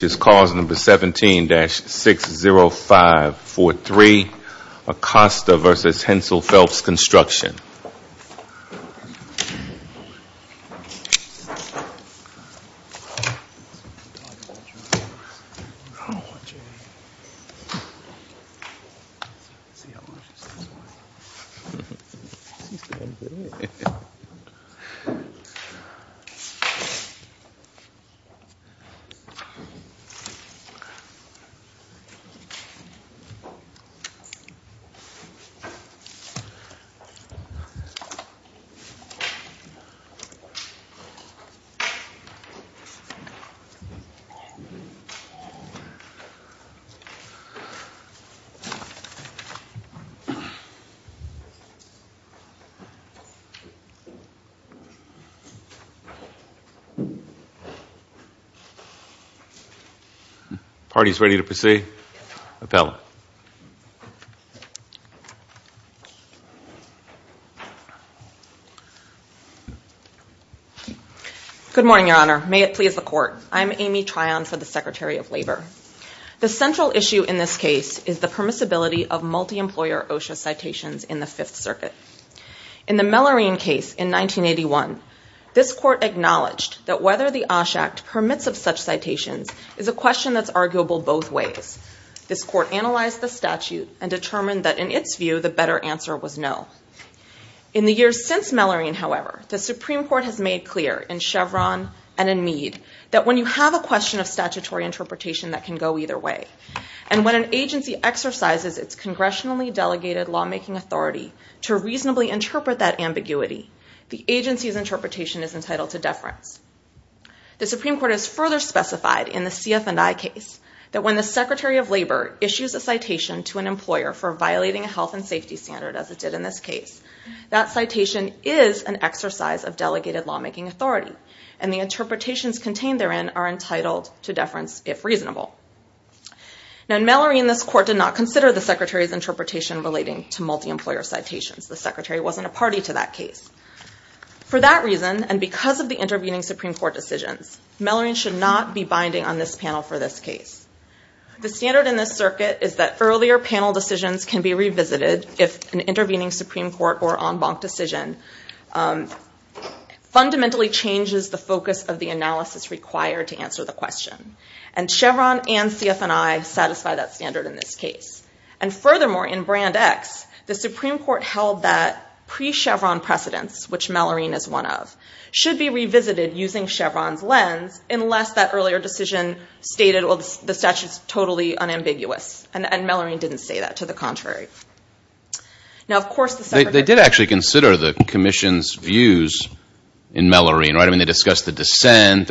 17-60543 Acosta v. Hensel Phelps Construction 17-60543 Acosta v. Hensel Phelps Construction Party is ready to proceed. Appellant. Good morning, Your Honor. May it please the Court. I'm Amy Tryon for the Secretary of Labor. The central issue in this case is the permissibility of multi-employer OSHA citations in the Fifth Circuit. In the Mellorine case in 1981, this Court acknowledged that whether the OSHA Act permits of such citations is a question that's arguable both ways. This Court analyzed the statute and determined that, in its view, the better answer was no. In the years since Mellorine, however, the Supreme Court has made clear, in Chevron and in Meade, that when you have a question of statutory interpretation that can go either way, and when an agency exercises its congressionally delegated lawmaking authority to reasonably interpret that ambiguity, the agency's interpretation is entitled to deference. The Supreme Court has further specified, in the CF&I case, that when the Secretary of Labor issues a citation to an employer for violating a health and safety standard, as it did in this case, that citation is an exercise of delegated lawmaking authority, and the interpretations contained therein are entitled to deference if reasonable. Now, in Mellorine, this Court did not consider the Secretary's interpretation relating to multi-employer citations. The Secretary wasn't a party to that case. For that reason, and because of the intervening Supreme Court decisions, Mellorine should not be binding on this panel for this case. The standard in this circuit is that earlier panel decisions can be revisited if an intervening Supreme Court or en banc decision fundamentally changes the focus of the analysis required to answer the question. And Chevron and CF&I satisfy that standard in this case. And furthermore, in Brand X, the Supreme Court held that pre-Chevron precedents, which Mellorine is one of, should be revisited using Chevron's lens, unless that earlier decision stated, well, the statute's totally unambiguous. And Mellorine didn't say that. To the contrary. Now, of course, the Secretary... They did actually consider the Commission's views in Mellorine, right? I mean, they discussed the dissent.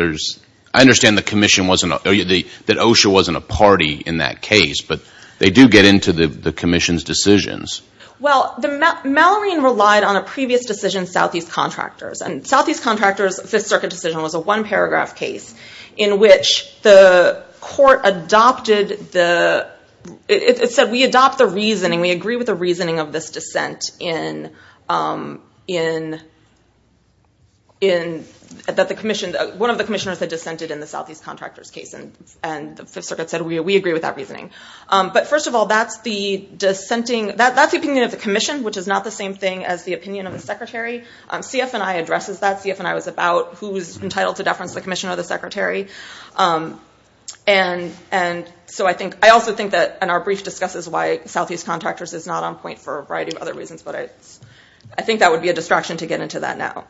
I understand the Commission wasn't, that OSHA wasn't a party in that case, but they do get into the Commission's decisions. Well, Mellorine relied on a previous decision, Southeast Contractors. And Southeast Contractors' Fifth Circuit decision was a one-paragraph case in which the court adopted the, it said, we adopt the reasoning, we agree with the reasoning of this dissent in, that the Commission, one of the Commissioners had dissented in the Southeast Contractors' case. And the Fifth Circuit said, we agree with that reasoning. But first of all, that's the dissenting, that's the opinion of the Commission, which is not the same thing as the opinion of the Secretary. CF&I addresses that. CF&I was about who was entitled to deference, the Commissioner or the Secretary. And so I think, I also think that in our brief discusses why Southeast Contractors is not on point for a variety of other reasons, but I think that would be a distraction to get into that now.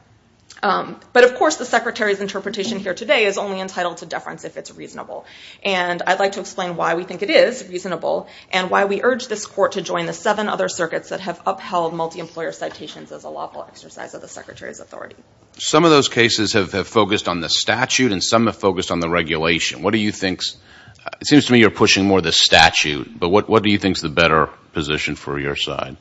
But of course, the Secretary's interpretation here today is only entitled to deference if it's reasonable. And I'd like to explain why we think it is reasonable and why we urge this court to join the seven other circuits that have upheld multi-employer citations as a lawful exercise of the Secretary's authority. Some of those cases have focused on the statute and some have focused on the regulation. What do you think's, it seems to me you're pushing more the statute, but what do you think's the better position for your side?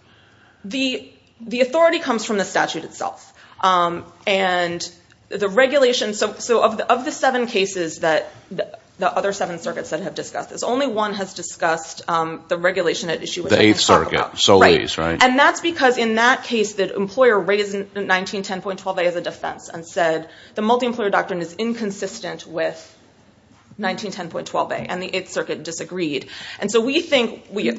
The authority comes from the statute itself. And the regulation, so of the seven cases that the other seven circuits that have discussed this, only one has discussed the regulation at issue which I didn't talk about. The Eighth Circuit, Solis, right? And that's because in that case the employer raised 1910.12a as a defense and said the multi-employer doctrine is inconsistent with 1910.12a and the Eighth Circuit disagreed. And so we think, we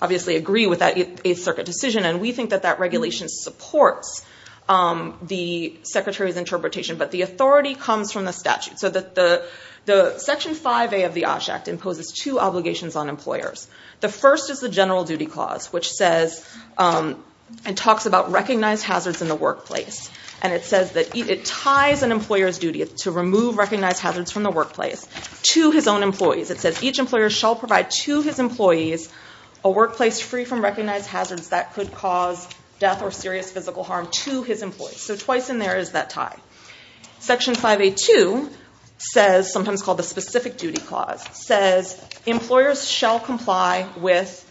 obviously agree with that Eighth Circuit decision and we think that that regulation supports the Secretary's interpretation, but the authority comes from the statute. So the Section 5a of the OSH Act imposes two obligations on employers. The first is the General Duty Clause which says and talks about recognized hazards in the workplace. And it says that it ties an employer's duty to remove recognized hazards from the workplace to his own employees. It says each employer shall provide to his employees a workplace free from recognized hazards that could cause death or serious physical harm to his employees. So twice in there is that tie. Section 5a.2 says, sometimes called the Specific Duty Clause, says employers shall comply with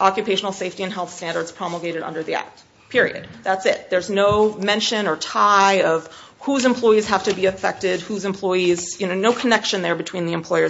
occupational safety and health standards promulgated under the Act, period. That's it. There's no mention or tie of whose employees have to be affected, whose employees, you know, no connection there between the employer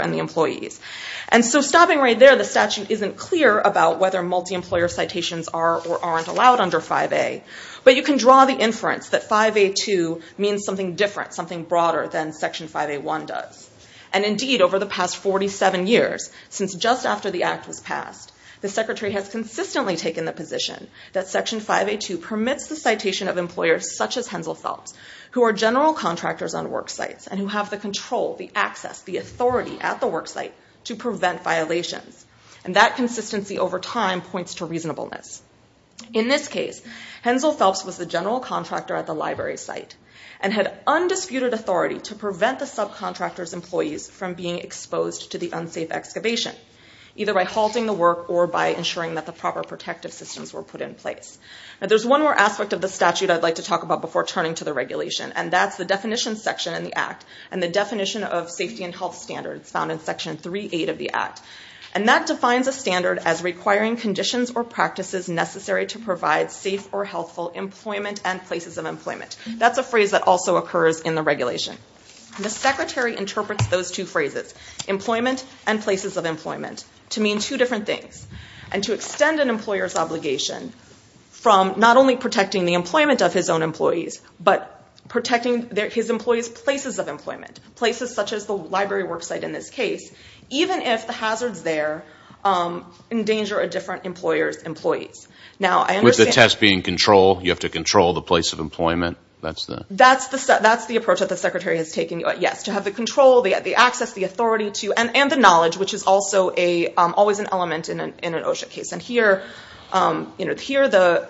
and the employees. And so stopping right there, the statute isn't clear about whether multi-employer citations are or aren't allowed under 5a, but you can draw the inference that 5a.2 means something different, something broader than Section 5a.1 does. And indeed, over the past 47 years, since just after the Act was passed, the Secretary has consistently taken the position that Section 5a.2 permits the citation of employers such as Hensel Phelps, who are general contractors on work sites and who have the control, the access, the authority at the work site to prevent violations. And that consistency over time points to reasonableness. In this case, Hensel Phelps was the general contractor at the library site and had undisputed authority to prevent the subcontractor's employees from being exposed to the unsafe excavation, either by halting the work or by ensuring that the proper protective systems were put in place. There's one more aspect of the statute I'd like to talk about before turning to the regulation, and that's the definition section in the Act and the definition of safety and health standards found in Section 3.8 of the Act. And that defines a standard as requiring conditions or practices necessary to provide safe or healthful employment and places of employment. That's a phrase that also occurs in the regulation. The Secretary interprets those two phrases, employment and places of employment, to mean two different things, and to extend an employer's obligation from not only protecting the employment of his own employees, but protecting his employees' places of employment, places such as the library work site in this case, even if the hazards there endanger a different employer's employees. With the test being control, you have to control the place of employment? That's the approach that the Secretary has taken, yes, to have the control, the access, the authority to, and the knowledge, which is also always an element in an OSHA case. And here the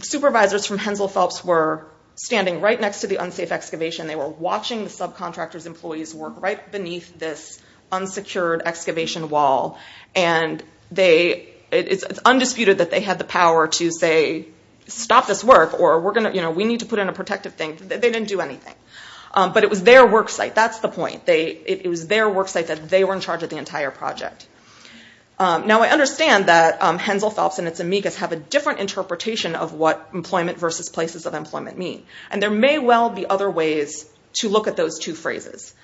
supervisors from Hensel Phelps were standing right next to the unsafe excavation. They were watching the subcontractor's employees work right beneath this unsecured excavation wall. And it's undisputed that they had the power to say, stop this work, or we need to put in a protective thing. They didn't do anything. But it was their work site, that's the point. It was their work site that they were in charge of the entire project. Now I understand that Hensel Phelps and its amigas have a different interpretation of what employment versus places of employment mean. And there may well be other ways to look at those two phrases.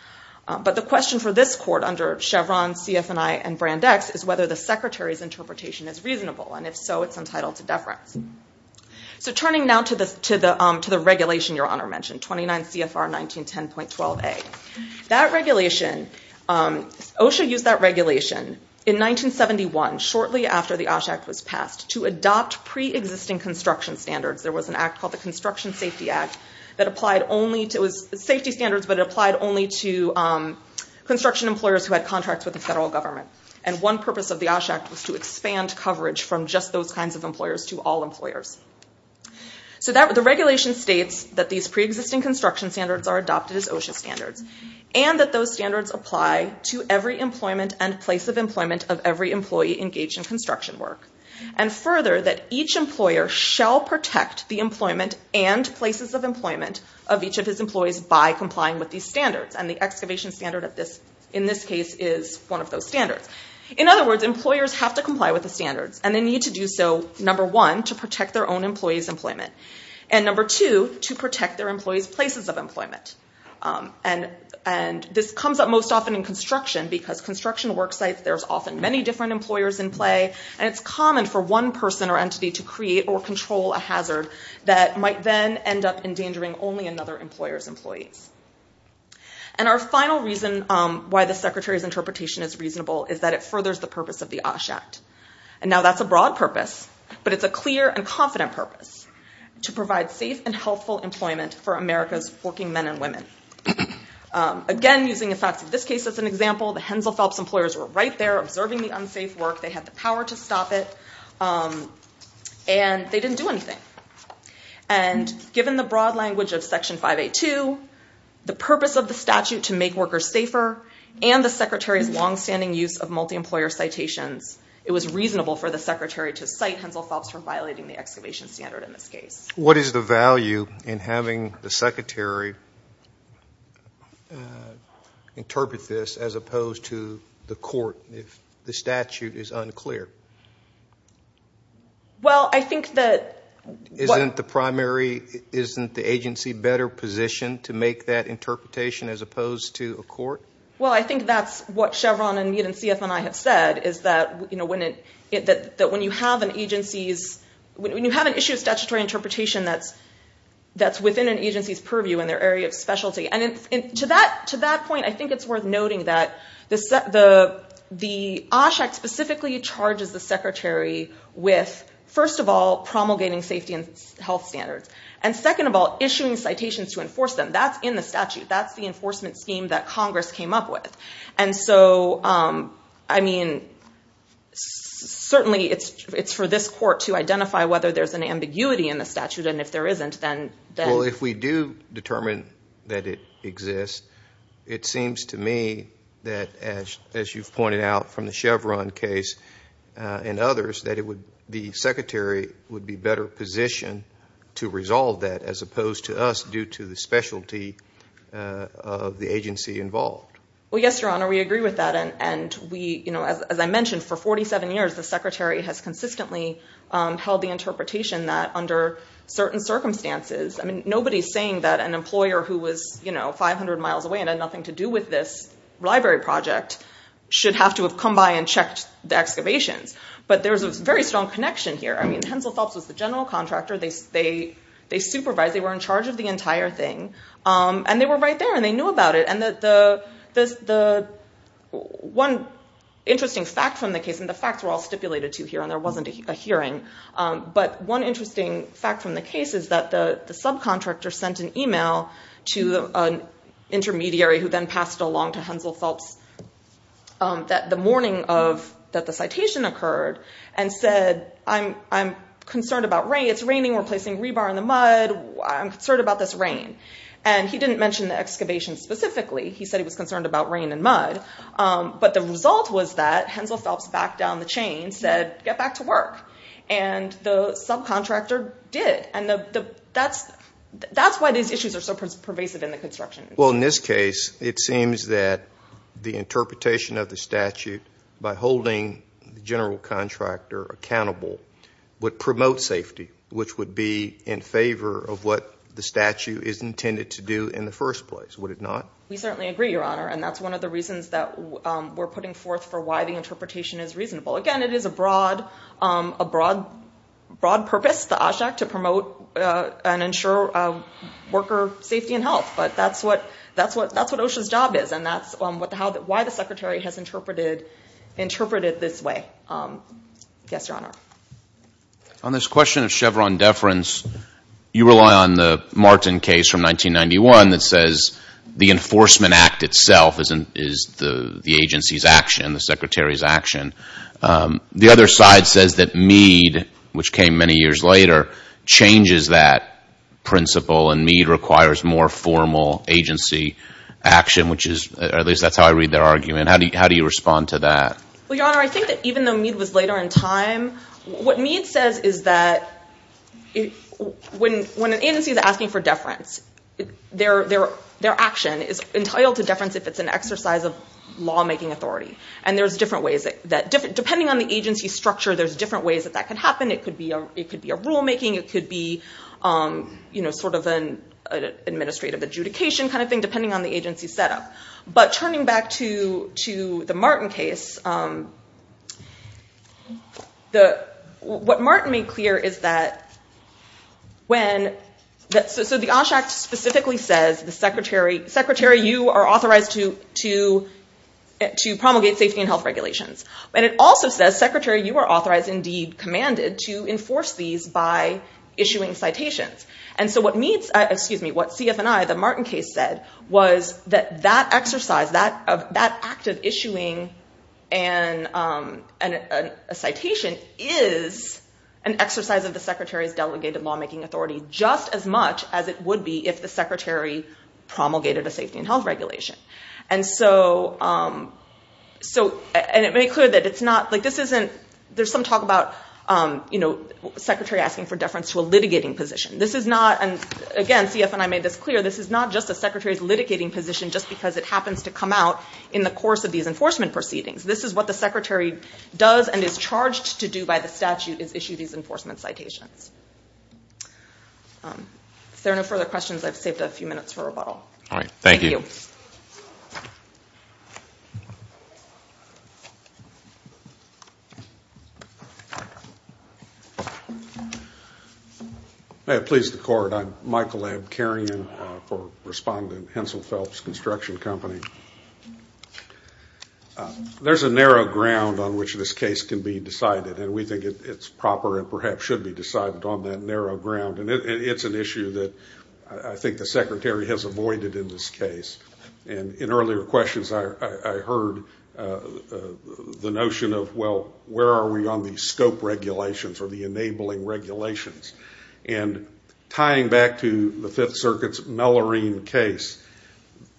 But the question for this court under Chevron, CFNI, and Brand X, is whether the Secretary's interpretation is reasonable. And if so, it's entitled to deference. So turning now to the regulation Your Honor mentioned, 29 CFR 1910.12a. That regulation, OSHA used that regulation in 1971, shortly after the OSHA Act was passed, to adopt pre-existing construction standards. There was an act called the Construction Safety Act that applied only to, it was safety standards, but it applied only to construction employers who had contracts with the federal government. And one purpose of the OSHA Act was to expand coverage from just those kinds of employers to all employers. So the regulation states that these pre-existing construction standards are adopted as OSHA standards. And that those standards apply to every employment and place of employment of every employee engaged in construction work. And further, that each employer shall protect the employment and places of employment of each of his employees by complying with these standards. And the excavation standard in this case is one of those standards. In other words, employers have to comply with the standards. And they need to do so, number one, to protect their own employees' employment. And number two, to protect their employees' places of employment. And this comes up most often in construction, because construction worksites, there's often many different employers in play. That might then end up endangering only another employer's employees. And our final reason why the Secretary's interpretation is reasonable is that it furthers the purpose of the OSHA Act. And now that's a broad purpose, but it's a clear and confident purpose to provide safe and healthful employment for America's working men and women. Again, using the facts of this case as an example, the Hensel Phelps employers were right there observing the unsafe work. They had the power to stop it. And they didn't do anything. And given the broad language of Section 582, the purpose of the statute to make workers safer, and the Secretary's longstanding use of multi-employer citations, it was reasonable for the Secretary to cite Hensel Phelps for violating the excavation standard in this case. What is the value in having the Secretary interpret this as opposed to the court if the statute is unclear? Isn't the agency better positioned to make that interpretation as opposed to a court? Well, I think that's what Chevron and Mead and CF and I have said, is that when you have an issue of statutory interpretation that's within an agency's purview in their area of specialty. And to that point, I think it's worth noting that the OSHA specifically charges the Secretary with, first of all, promulgating safety and health standards. And second of all, issuing citations to enforce them. That's in the statute. That's the enforcement scheme that Congress came up with. And so, I mean, certainly it's for this court to identify whether there's an ambiguity in the statute, and if there isn't, then... Well, if we do determine that it exists, it seems to me that, as you've pointed out from the Chevron case and others, that the Secretary would be better positioned to resolve that as opposed to us due to the specialty of the agency involved. Well, yes, Your Honor, we agree with that. And as I mentioned, for 47 years the Secretary has consistently held the interpretation that under certain circumstances, I mean, nobody's saying that an employer who was, you know, 500 miles away and had nothing to do with this library project should have to have come by and checked the excavations. But there's a very strong connection here. I mean, Hensel Phelps was the general contractor. They supervised. They were in charge of the entire thing. And they were right there, and they knew about it. And the one interesting fact from the case, and the facts were all stipulated to here, and there wasn't a hearing, but one interesting fact from the case is that the subcontractor sent an email to an intermediary who then passed it along to Hensel Phelps the morning that the citation occurred and said, I'm concerned about rain. It's raining. We're placing rebar in the mud. I'm concerned about this rain. And he didn't mention the excavation specifically. He said he was concerned about rain and mud. But the result was that Hensel Phelps backed down the chain, and said, get back to work. And the subcontractor did. And that's why these issues are so pervasive in the construction. Well, in this case, it seems that the interpretation of the statute by holding the general contractor accountable would promote safety, which would be in favor of what the statute is intended to do in the first place, would it not? We certainly agree, Your Honor, and that's one of the reasons that we're putting forth for why the interpretation is reasonable. Again, it is a broad purpose, the OSHAC, to promote and ensure worker safety and health. But that's what OSHA's job is, and that's why the Secretary has interpreted it this way. Yes, Your Honor. On this question of Chevron deference, you rely on the Martin case from 1991 that says the enforcement act itself is the agency's action, the Secretary's action. The other side says that Meade, which came many years later, changes that principle, and Meade requires more formal agency action, which is, at least that's how I read their argument. How do you respond to that? Well, Your Honor, I think that even though Meade was later in time, their action is entitled to deference if it's an exercise of lawmaking authority, and there's different ways that, depending on the agency structure, there's different ways that that could happen. It could be a rulemaking. It could be sort of an administrative adjudication kind of thing, depending on the agency setup. But turning back to the Martin case, what Martin made clear is that, so the Osh Act specifically says, Secretary, you are authorized to promulgate safety and health regulations. And it also says, Secretary, you are authorized, indeed commanded, to enforce these by issuing citations. And so what CF and I, the Martin case said, was that that exercise, that act of issuing a citation, is an exercise of the Secretary's delegated lawmaking authority, just as much as it would be if the Secretary promulgated a safety and health regulation. And it made clear that it's not, there's some talk about the Secretary asking for deference to a litigating position. This is not, and again, CF and I made this clear, this is not just the Secretary's litigating position just because it happens to come out in the course of these enforcement proceedings. This is what the Secretary does and is charged to do by the statute, is issue these enforcement citations. If there are no further questions, I've saved a few minutes for rebuttal. All right, thank you. Thank you. May it please the Court, I'm Michael Abkarian for respondent, Hensel Phelps Construction Company. There's a narrow ground on which this case can be decided, and we think it's proper and perhaps should be decided on that narrow ground. And it's an issue that I think the Secretary has avoided in this case. And in earlier questions, I heard the notion of, well, where are we on the scope regulations or the enabling regulations? And tying back to the Fifth Circuit's Mellorine case,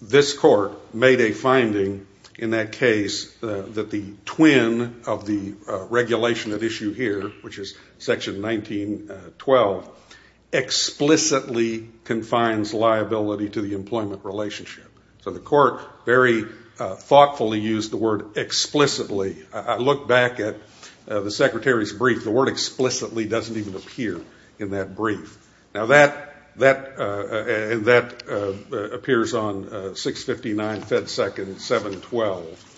this Court made a finding in that case that the twin of the regulation at issue here, which is Section 1912, explicitly confines liability to the employment relationship. So the Court very thoughtfully used the word explicitly. I look back at the Secretary's brief, the word explicitly doesn't even appear. Now that appears on 659 Fed Second 712.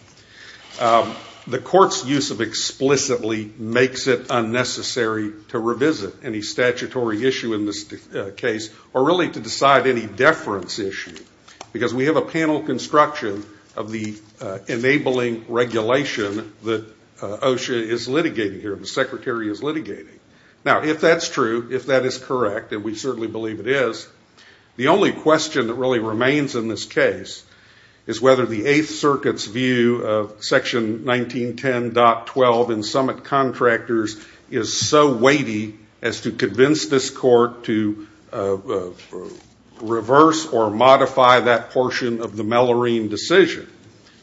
The Court's use of explicitly makes it unnecessary to revisit any statutory issue in this case or really to decide any deference issue, because we have a panel construction of the enabling regulation that OSHA is litigating here, the Secretary is litigating. Now, if that's true, if that is correct, and we certainly believe it is, the only question that really remains in this case is whether the Eighth Circuit's view of Section 1910.12 in summit contractors is so weighty as to convince this Court to reverse or modify that portion of the Mellorine decision.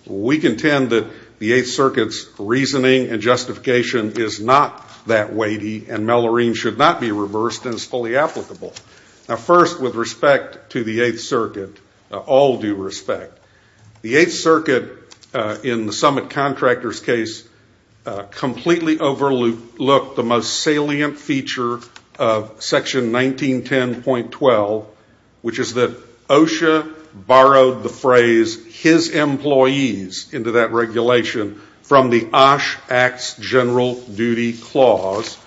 We contend that the Eighth Circuit's reasoning and justification is not that weighty, and Mellorine should not be reversed and is fully applicable. Now, first, with respect to the Eighth Circuit, all due respect, the Eighth Circuit, in the summit contractor's case, completely overlooked the most salient feature of Section 1910.12, which is that OSHA borrowed the phrase his employees into that regulation from the OSHA Act's general duty clause,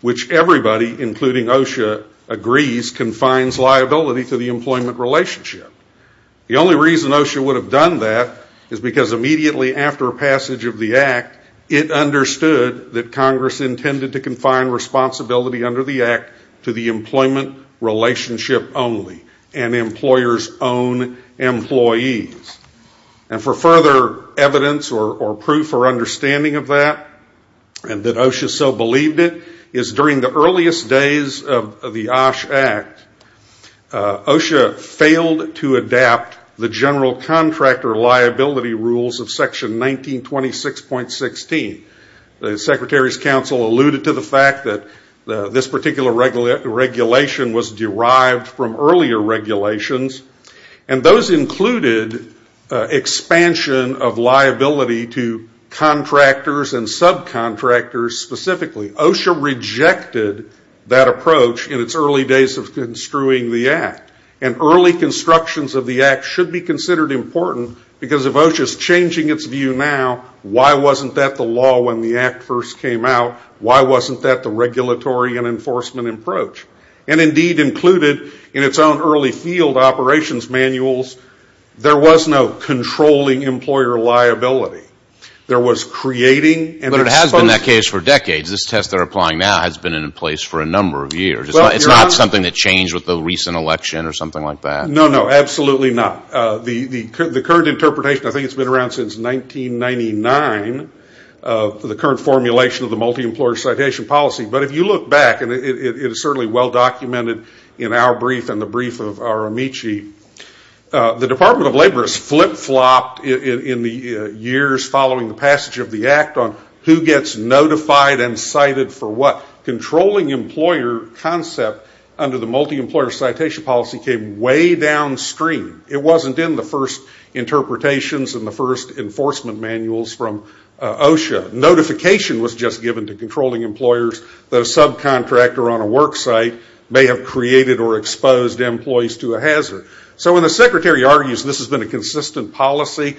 which everybody, including OSHA, agrees confines liability to the employment relationship. The only reason OSHA would have done that is because immediately after passage of the Act, it understood that Congress intended to confine responsibility under the Act to the employment relationship only and employers' own employees. And for further evidence or proof or understanding of that, and that OSHA so believed it, is during the earliest days of the OSHA Act, OSHA failed to adapt the general contractor liability rules of Section 1926.16. The Secretary's counsel alluded to the fact that this particular regulation was derived from earlier regulations. And those included expansion of liability to contractors and subcontractors specifically. OSHA rejected that approach in its early days of construing the Act. And early constructions of the Act should be considered important, because if OSHA is changing its view now, why wasn't that the law when the Act first came out? Why wasn't that the regulatory and enforcement approach? And indeed included in its own early field operations manuals, there was no controlling employer liability. There was creating... But it has been that case for decades. This test they're applying now has been in place for a number of years. It's not something that changed with the recent election or something like that. No, no, absolutely not. The current interpretation, I think it's been around since 1999, the current formulation of the Multi-Employer Citation Policy. But if you look back, and it is certainly well documented in our brief and the brief of our Amici, the Department of Labor has flip-flopped in the years following the passage of the Act on who gets notified and cited for what. Controlling employer concept under the Multi-Employer Citation Policy came way downstream. It wasn't in the first interpretations and the first enforcement manuals from OSHA. Notification was just given to controlling employers. The subcontractor on a work site may have created or exposed employees to a hazard. So when the secretary argues this has been a consistent policy,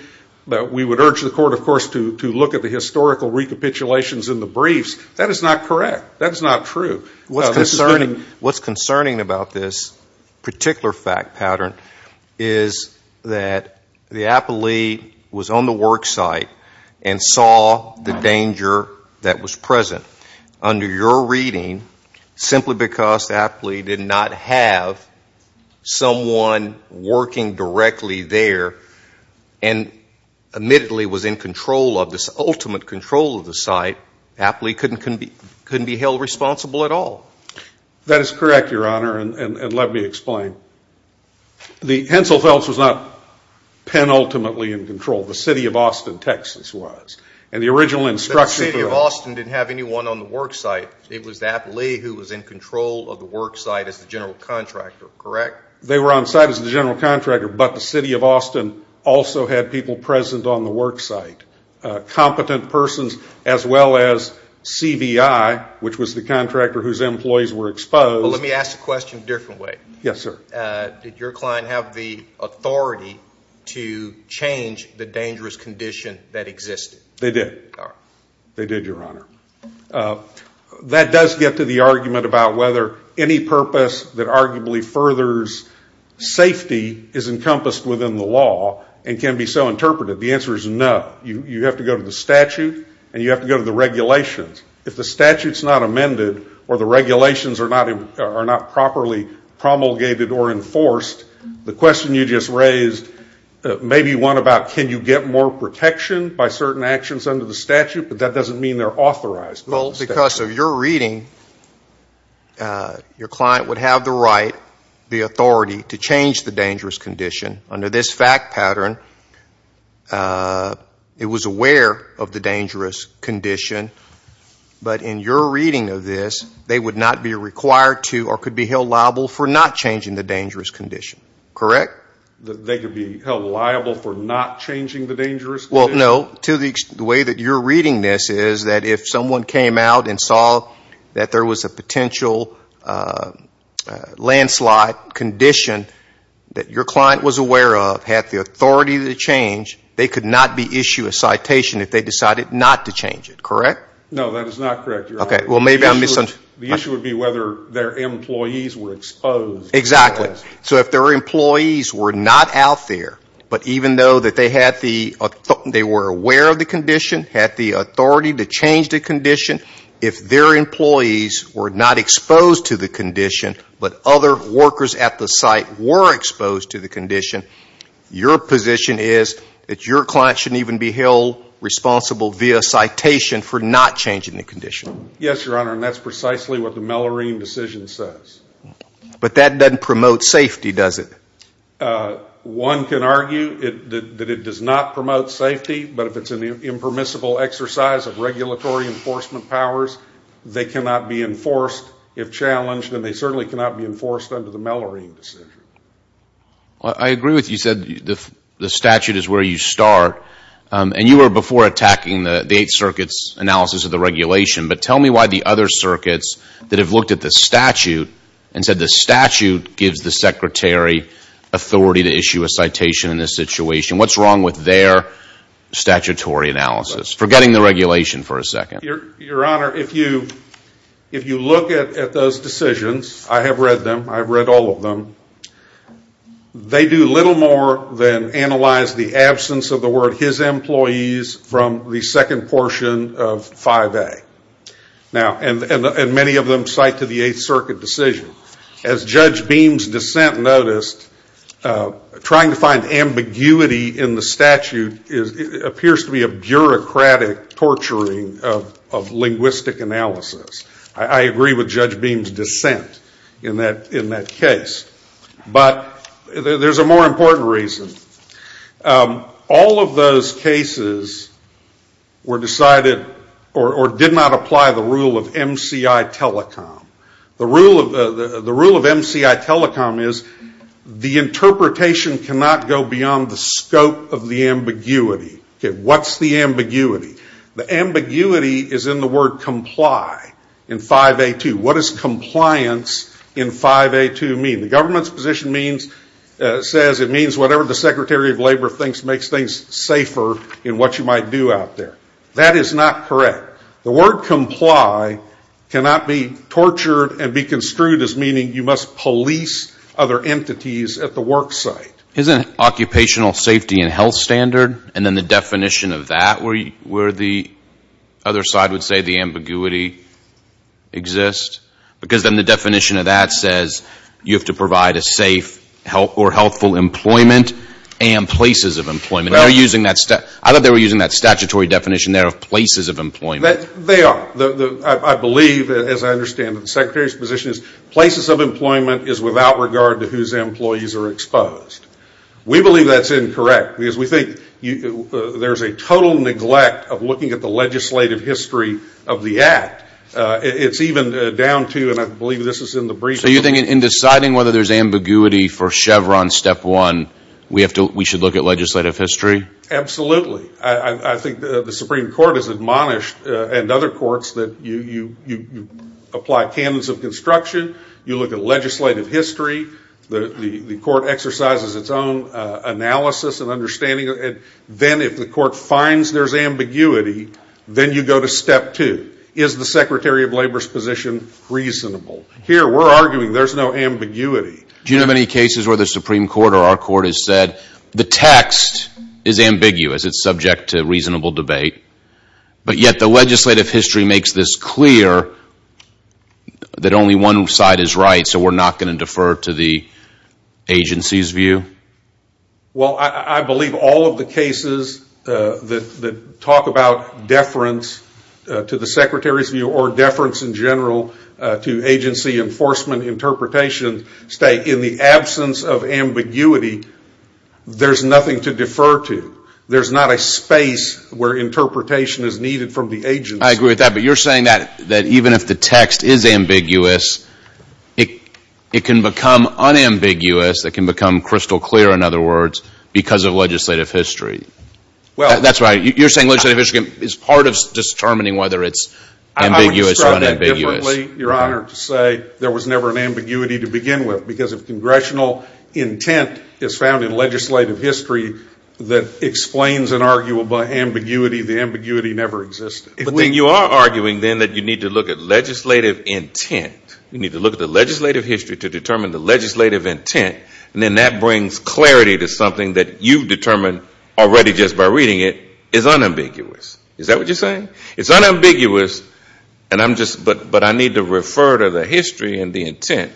we would urge the court, of course, to look at the historical recapitulations in the briefs. That is not correct. That is not true. What's concerning about this particular fact pattern is that the appellee was on the work site and saw the danger that was present. Under your reading, simply because the appellee did not have someone working directly there and admittedly was in control of this ultimate control of the site, the appellee couldn't be held responsible at all. That is correct, Your Honor, and let me explain. The Henselfelds was not penultimately in control. The City of Austin, Texas was. And the original instruction... The City of Austin didn't have anyone on the work site. It was the appellee who was in control of the work site as the general contractor, correct? They were on site as the general contractor, but the City of Austin also had people present on the work site. Competent persons as well as CVI, which was the contractor whose employees were exposed. Let me ask the question a different way. Did your client have the authority to change the dangerous condition that existed? They did, Your Honor. That does get to the argument about whether any purpose that arguably furthers safety is encompassed within the law and can be so interpreted. The answer is no. You have to go to the statute and you have to go to the regulations. If the statute is not amended or the regulations are not properly promulgated or enforced, the question you just raised may be one about can you get more protection by certain actions under the statute, but that doesn't mean they're authorized. Well, because of your reading, your client would have the right, the authority, to change the dangerous condition under this fact pattern. It was aware of the dangerous condition, but in your reading of this, they would not be required to or could be held liable for not changing the dangerous condition. Correct? They could be held liable for not changing the dangerous condition? Well, no. The way that you're reading this is that if someone came out and saw that there was a potential landslide condition that your client was aware of, had the authority to change, they could not issue a citation if they decided not to change it. Correct? No, that is not correct. The issue would be whether their employees were exposed. Exactly. So if their employees were not out there, but even though they were aware of the condition, had the authority to change the condition, if their employees were not exposed to the condition, but other workers at the site were exposed to the condition, your position is that your client shouldn't even be held responsible via citation for not changing the condition. Yes, Your Honor, and that's precisely what the Mellorine decision says. But that doesn't promote safety, does it? One can argue that it does not promote safety, but if it's an impermissible exercise of regulatory enforcement powers, they cannot be enforced if challenged, and they certainly cannot be enforced under the Mellorine decision. I agree with what you said. The statute is where you start, and you were before attacking the Eighth Circuit's analysis of the regulation, but tell me why the other circuits that have looked at the statute and said the statute gives the Secretary authority to issue a citation in this situation. What's wrong with their statutory analysis? Forgetting the regulation for a second. Your Honor, if you look at those decisions, I have read them, I've read all of them, they do little more than analyze the absence of the word his employees from the second portion of 5A. And many of them cite to the Eighth Circuit decision. As Judge Beam's dissent noticed, trying to find ambiguity in the statute appears to be a bureaucratic torturing of linguistic analysis. I agree with Judge Beam's dissent in that case. But there's a more important reason. All of those cases were decided, or did not apply the rule of MCI Telecom. The rule of MCI Telecom is the interpretation cannot go beyond the scope of the ambiguity. What's the ambiguity? The ambiguity is in the word comply in 5A2. What does compliance in 5A2 mean? The government's position says it means whatever the Secretary of Labor thinks makes things safer in what you might do out there. That is not correct. The word comply cannot be tortured and be construed as meaning you must police other entities at the work site. Isn't occupational safety and health standard and then the definition of that where the other side would say the ambiguity exists? Because then the definition of that says you have to provide a safe or helpful employment and places of employment. I thought they were using that statutory definition there of places of employment. They are. I believe, as I understand it, the Secretary's position is places of employment is without regard to whose employees are exposed. We believe that's incorrect because we think there's a total neglect of looking at the legislative history of the act. It's even down to, and I believe this is in the brief. So you think in deciding whether there's ambiguity for Chevron Step 1 we should look at legislative history? Absolutely. I think the Supreme Court has admonished and other courts that you apply canons of construction. You look at legislative history. The court exercises its own analysis and understanding. Then if the court finds there's ambiguity, then you go to Step 2. Is the Secretary of Labor's position reasonable? Here we're arguing there's no ambiguity. Do you know of any cases where the Supreme Court or our court has said the text is ambiguous, it's subject to reasonable debate, but yet the legislative history makes this clear that only one side is right, so we're not going to defer to the agency's view? Well, I believe all of the cases that talk about deference to the Secretary's view or deference in general to agency enforcement interpretations state in the absence of ambiguity, there's nothing to defer to. There's not a space where interpretation is needed from the agency. I agree with that, but you're saying that even if the text is ambiguous, it can become unambiguous, it can become crystal clear, in other words, because of legislative history. You're saying legislative history is part of determining whether it's ambiguous or unambiguous. I would describe that differently, Your Honor, to say there was never an ambiguity to begin with. Because if congressional intent is found in legislative history that explains an arguable ambiguity, the ambiguity never existed. But then you are arguing then that you need to look at legislative intent. You need to look at the legislative history to determine the legislative intent, and then that brings clarity to something that you've determined already just by reading it is unambiguous. Is that what you're saying? It's unambiguous, but I need to refer to the history and the intent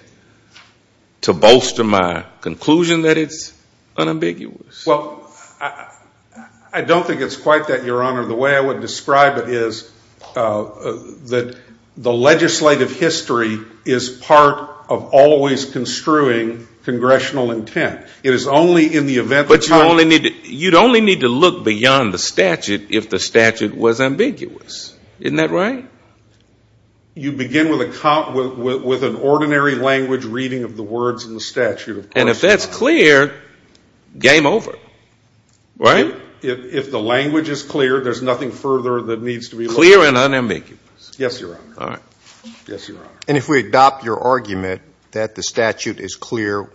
to bolster my conclusion that it's unambiguous. Well, I don't think it's quite that, Your Honor. The way I would describe it is that the legislative history is part of always construing congressional intent. It is only in the event that time... But you'd only need to look beyond the statute if the statute was ambiguous. Isn't that right? You begin with an ordinary language reading of the words in the statute. And if that's clear, game over. Right? If the language is clear, there's nothing further that needs to be looked at. Clear and unambiguous. Yes, Your Honor. And if we adopt your argument that the statute is clear,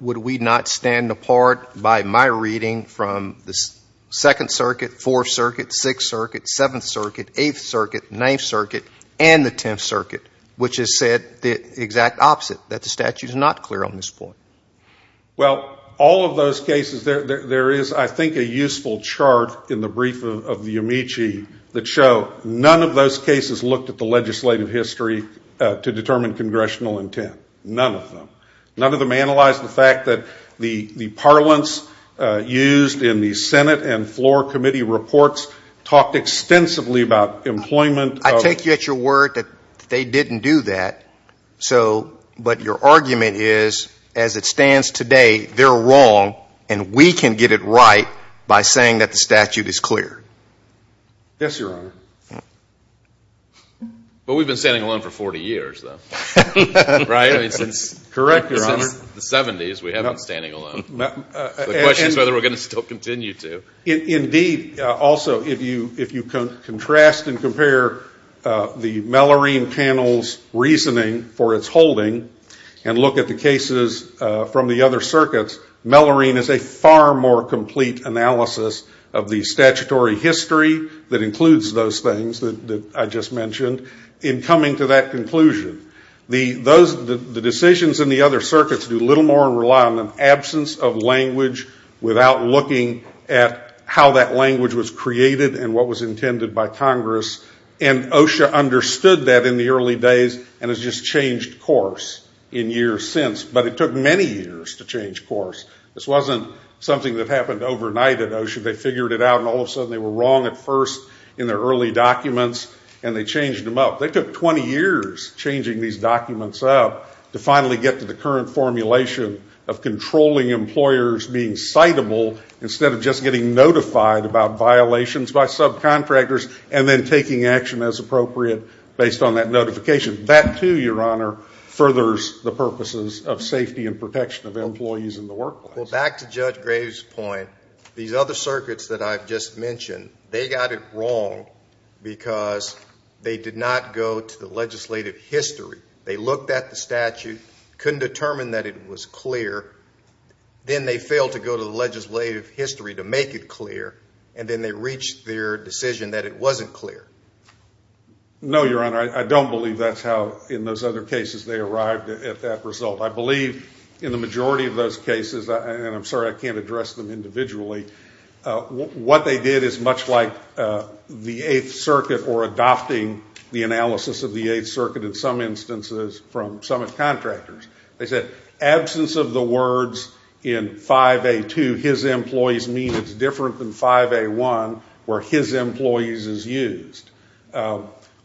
would we not stand apart by my reading from the 2nd Circuit, 4th Circuit, 6th Circuit, 7th Circuit, 8th Circuit, 9th Circuit, and the 10th Circuit, which has said the exact opposite, that the statute is not clear on this point? Well, all of those cases, there is, I think, a useful chart in the brief of the Amici that show none of those cases looked at the legislative history to determine congressional intent. None of them. None of them analyzed the fact that the parlance used in the Senate and floor committee reports talked extensively about employment of... I take you at your word that they didn't do that. So, but your argument is as it stands today, they're wrong and we can get it right by saying that the statute is clear. Yes, Your Honor. Well, we've been standing alone for 40 years, though. Right? Correct, Your Honor. Since the 70s, we haven't been standing alone. The question is whether we're going to still continue to. Indeed, also, if you contrast and compare the Mellorine panel's reasoning for its holding and look at the cases from the other circuits, Mellorine is a far more complete analysis of the statutory history that includes those things that I just mentioned in coming to that in the other circuits do little more rely on an absence of language without looking at how that language was created and what was intended by Congress. And OSHA understood that in the early days and has just changed course in years since. But it took many years to change course. This wasn't something that happened overnight at OSHA. They figured it out and all of a sudden they were wrong at first in their early documents and they changed them up. They took 20 years changing these documents up to finally get to the current formulation of controlling employers being citable instead of just getting notified about violations by subcontractors and then taking action as appropriate based on that notification. That, too, Your Honor, furthers the purposes of safety and protection of employees in the workplace. Well, back to Judge Graves' point, these other circuits that I've just mentioned, they got it wrong because they did not go to the legislative history. They looked at the statute, couldn't determine that it was clear. Then they failed to go to the legislative history to make it clear and then they reached their decision that it wasn't clear. No, Your Honor. I don't believe that's how in those other cases they arrived at that result. I believe in the majority of those cases, and I'm sorry I can't address them individually, what they did is much like the Eighth Circuit or adopting the analysis of the Eighth Circuit in some instances from some contractors. They said, absence of the words in 5A2 his employees means it's different than 5A1 where his employees is used.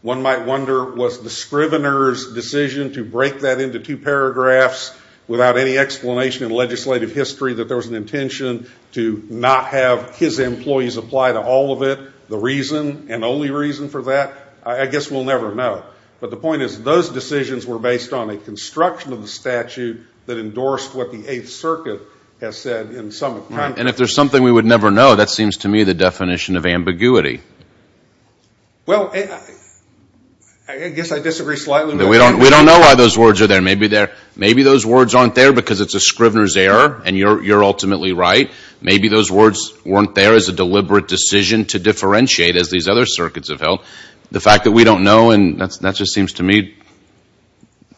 One might wonder, was the Scrivener's decision to break that into two paragraphs without any explanation in legislative history that there was an intention to not have his employees apply to all of it? The reason and only reason for that? I guess we'll never know. But the point is those decisions were based on a construction of the statute that endorsed what the Eighth Circuit has said in some context. And if there's something we would never know, that seems to me the definition of ambiguity. Well, I guess I disagree slightly. We don't know why those words are there. Maybe those words aren't there because it's a Scrivener's error and you're ultimately right. Maybe those words weren't there as a deliberate decision to differentiate as these other circuits have held. The fact that we don't know, and that just seems to me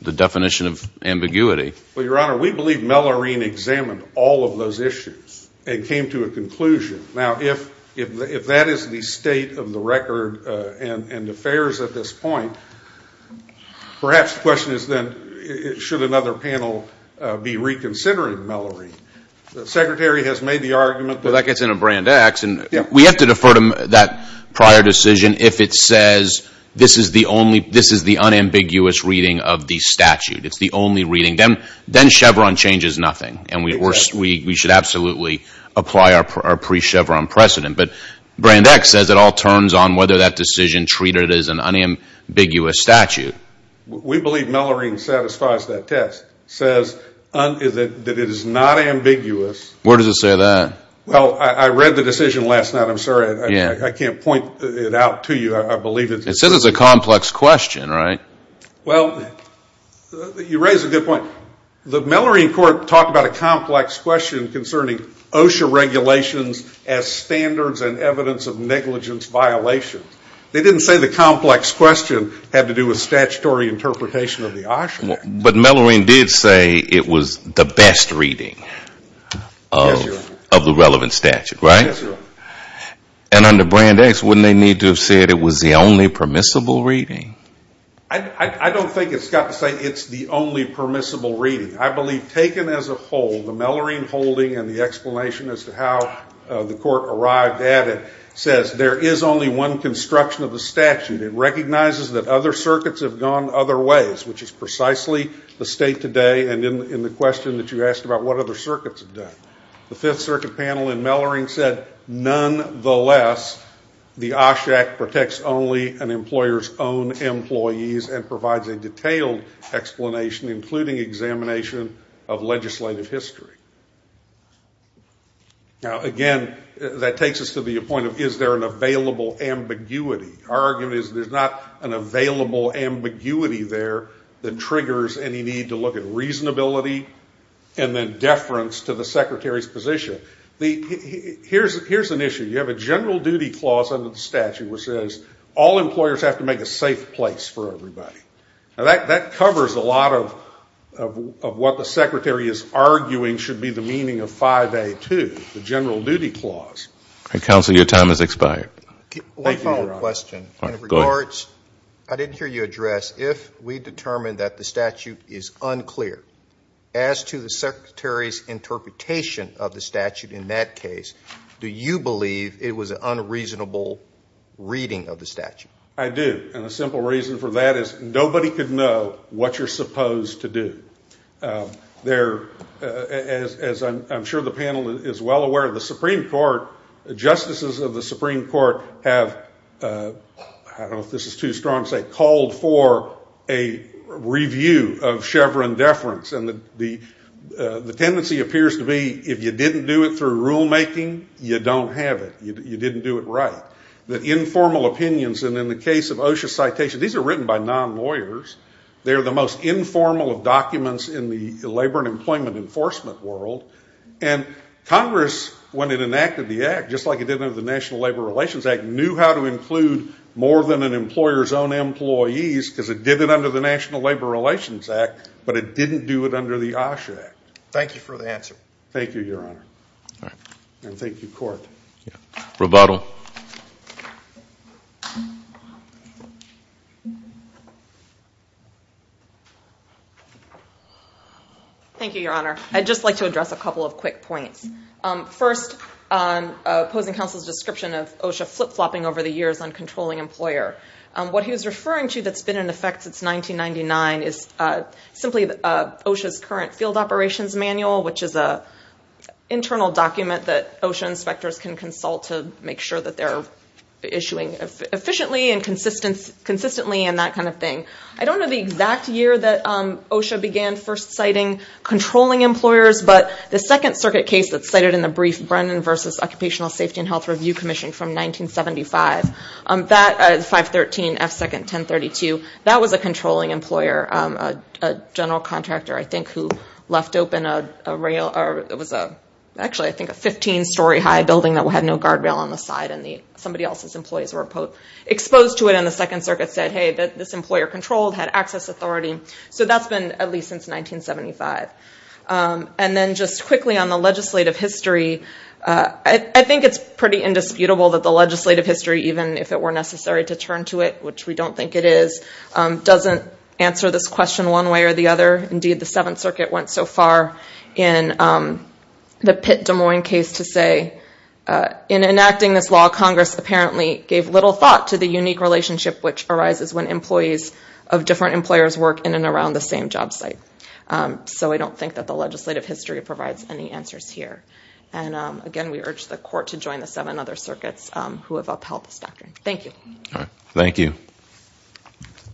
the definition of ambiguity. Well, Your Honor, we believe Mellorine examined all of those issues and came to a conclusion. Now, if that is the state of the record and affairs at this point, perhaps the question is then, should another panel be reconsidering Mellorine? The Secretary has made the argument that... Well, that gets into Brand X. We have to defer to that prior decision if it says this is the unambiguous reading of the statute. It's the only reading. Then Chevron changes nothing. And we should absolutely apply our pre-Chevron precedent. But Brand X says it all turns on whether that decision treated as an unambiguous statute. We believe Mellorine satisfies that test. It says that it is not ambiguous. Where does it say that? Well, I read the decision last night. I'm sorry. I can't point it out to you. It says it's a complex question, right? Well, you raise a good point. The Mellorine court talked about a complex question concerning OSHA regulations as standards and evidence of negligence violations. They didn't say the complex question had to do with statutory interpretation of the OSHA Act. But Mellorine did say it was the best reading of the relevant statute, right? And under Brand X, wouldn't they need to have said it was the only permissible reading? I don't think it's got to say it's the only permissible reading. I believe taken as a whole, the Mellorine holding and the explanation as to how the court arrived at it says there is only one construction of the statute. It recognizes that other circuits have gone other ways, which is precisely the state today and in the question that you asked about what other circuits have done. The Fifth Circuit panel in Mellorine said nonetheless the OSHA Act protects only an employer's own employees and provides a detailed explanation, including examination of legislative history. Now again, that takes us to the point of is there an available ambiguity? Our argument is there's not an available ambiguity there that triggers any need to look at reasonability and then deference to the secretary's position. Here's an issue. You have a general duty clause under the statute which says all employers have to make a safe place for everybody. Now that covers a lot of what the secretary is arguing should be the meaning of 5A2, the general duty clause. One follow-up question. I didn't hear you address if we determined that the statute is unclear. As to the secretary's interpretation of the statute in that case, do you believe it was an unreasonable reading of the statute? I do, and a simple reason for that is nobody could know what you're supposed to do. As I'm sure the panel is well aware, the Supreme Court, the justices of the Supreme Court have, I don't know if this is too strong to say, called for a review of Chevron deference. The tendency appears to be if you didn't do it through rulemaking, you don't have it. You didn't do it right. The informal opinions, and in the case of OSHA citation, these are written by non-lawyers. They're the most informal of documents in the labor and employment enforcement world. Congress, when it enacted the act, just like it did under the National Labor Relations Act, knew how to include more than an employer's own employees because it did it under the National Labor Relations Act, but it didn't do it under the OSHA Act. Thank you for the answer. Thank you, Your Honor. Thank you, Your Honor. I'd just like to address a couple of quick points. First, opposing counsel's description of OSHA flip-flopping over the years on controlling employer. What he was referring to that's been in effect since 1999 is simply OSHA's current field operations manual, which is an internal document that OSHA inspectors can consult to make sure that they're issuing efficiently and consistently and that kind of thing. I don't know the exact year that OSHA began first citing controlling employers, but the Second Circuit case that's cited in the brief, Brennan v. Occupational Safety and Health Review Commission from 1975, 513F2nd1032, that was a controlling employer, a general contractor, I think, who left open a rail, or it was actually, I think, a 15-story high building that had no guardrail on the side, and somebody else's employees were exposed to it, and the Second Circuit said, hey, this employer controlled, had access authority. So that's been at least since 1975. And then just quickly on the legislative history, I think it's pretty indisputable that the legislative history, even if it were necessary to turn to it, which we don't think it is, doesn't answer this question one way or the other. Indeed, the Seventh Circuit went so far in the Pitt-Des Moines case to say, in enacting this law, Congress apparently gave little thought to the unique relationship which arises when employees of different employers work in and around the same job site. So I don't think that the legislative history provides any answers here. And again, we urge the court to join the seven other circuits who have upheld this doctrine. Thank you.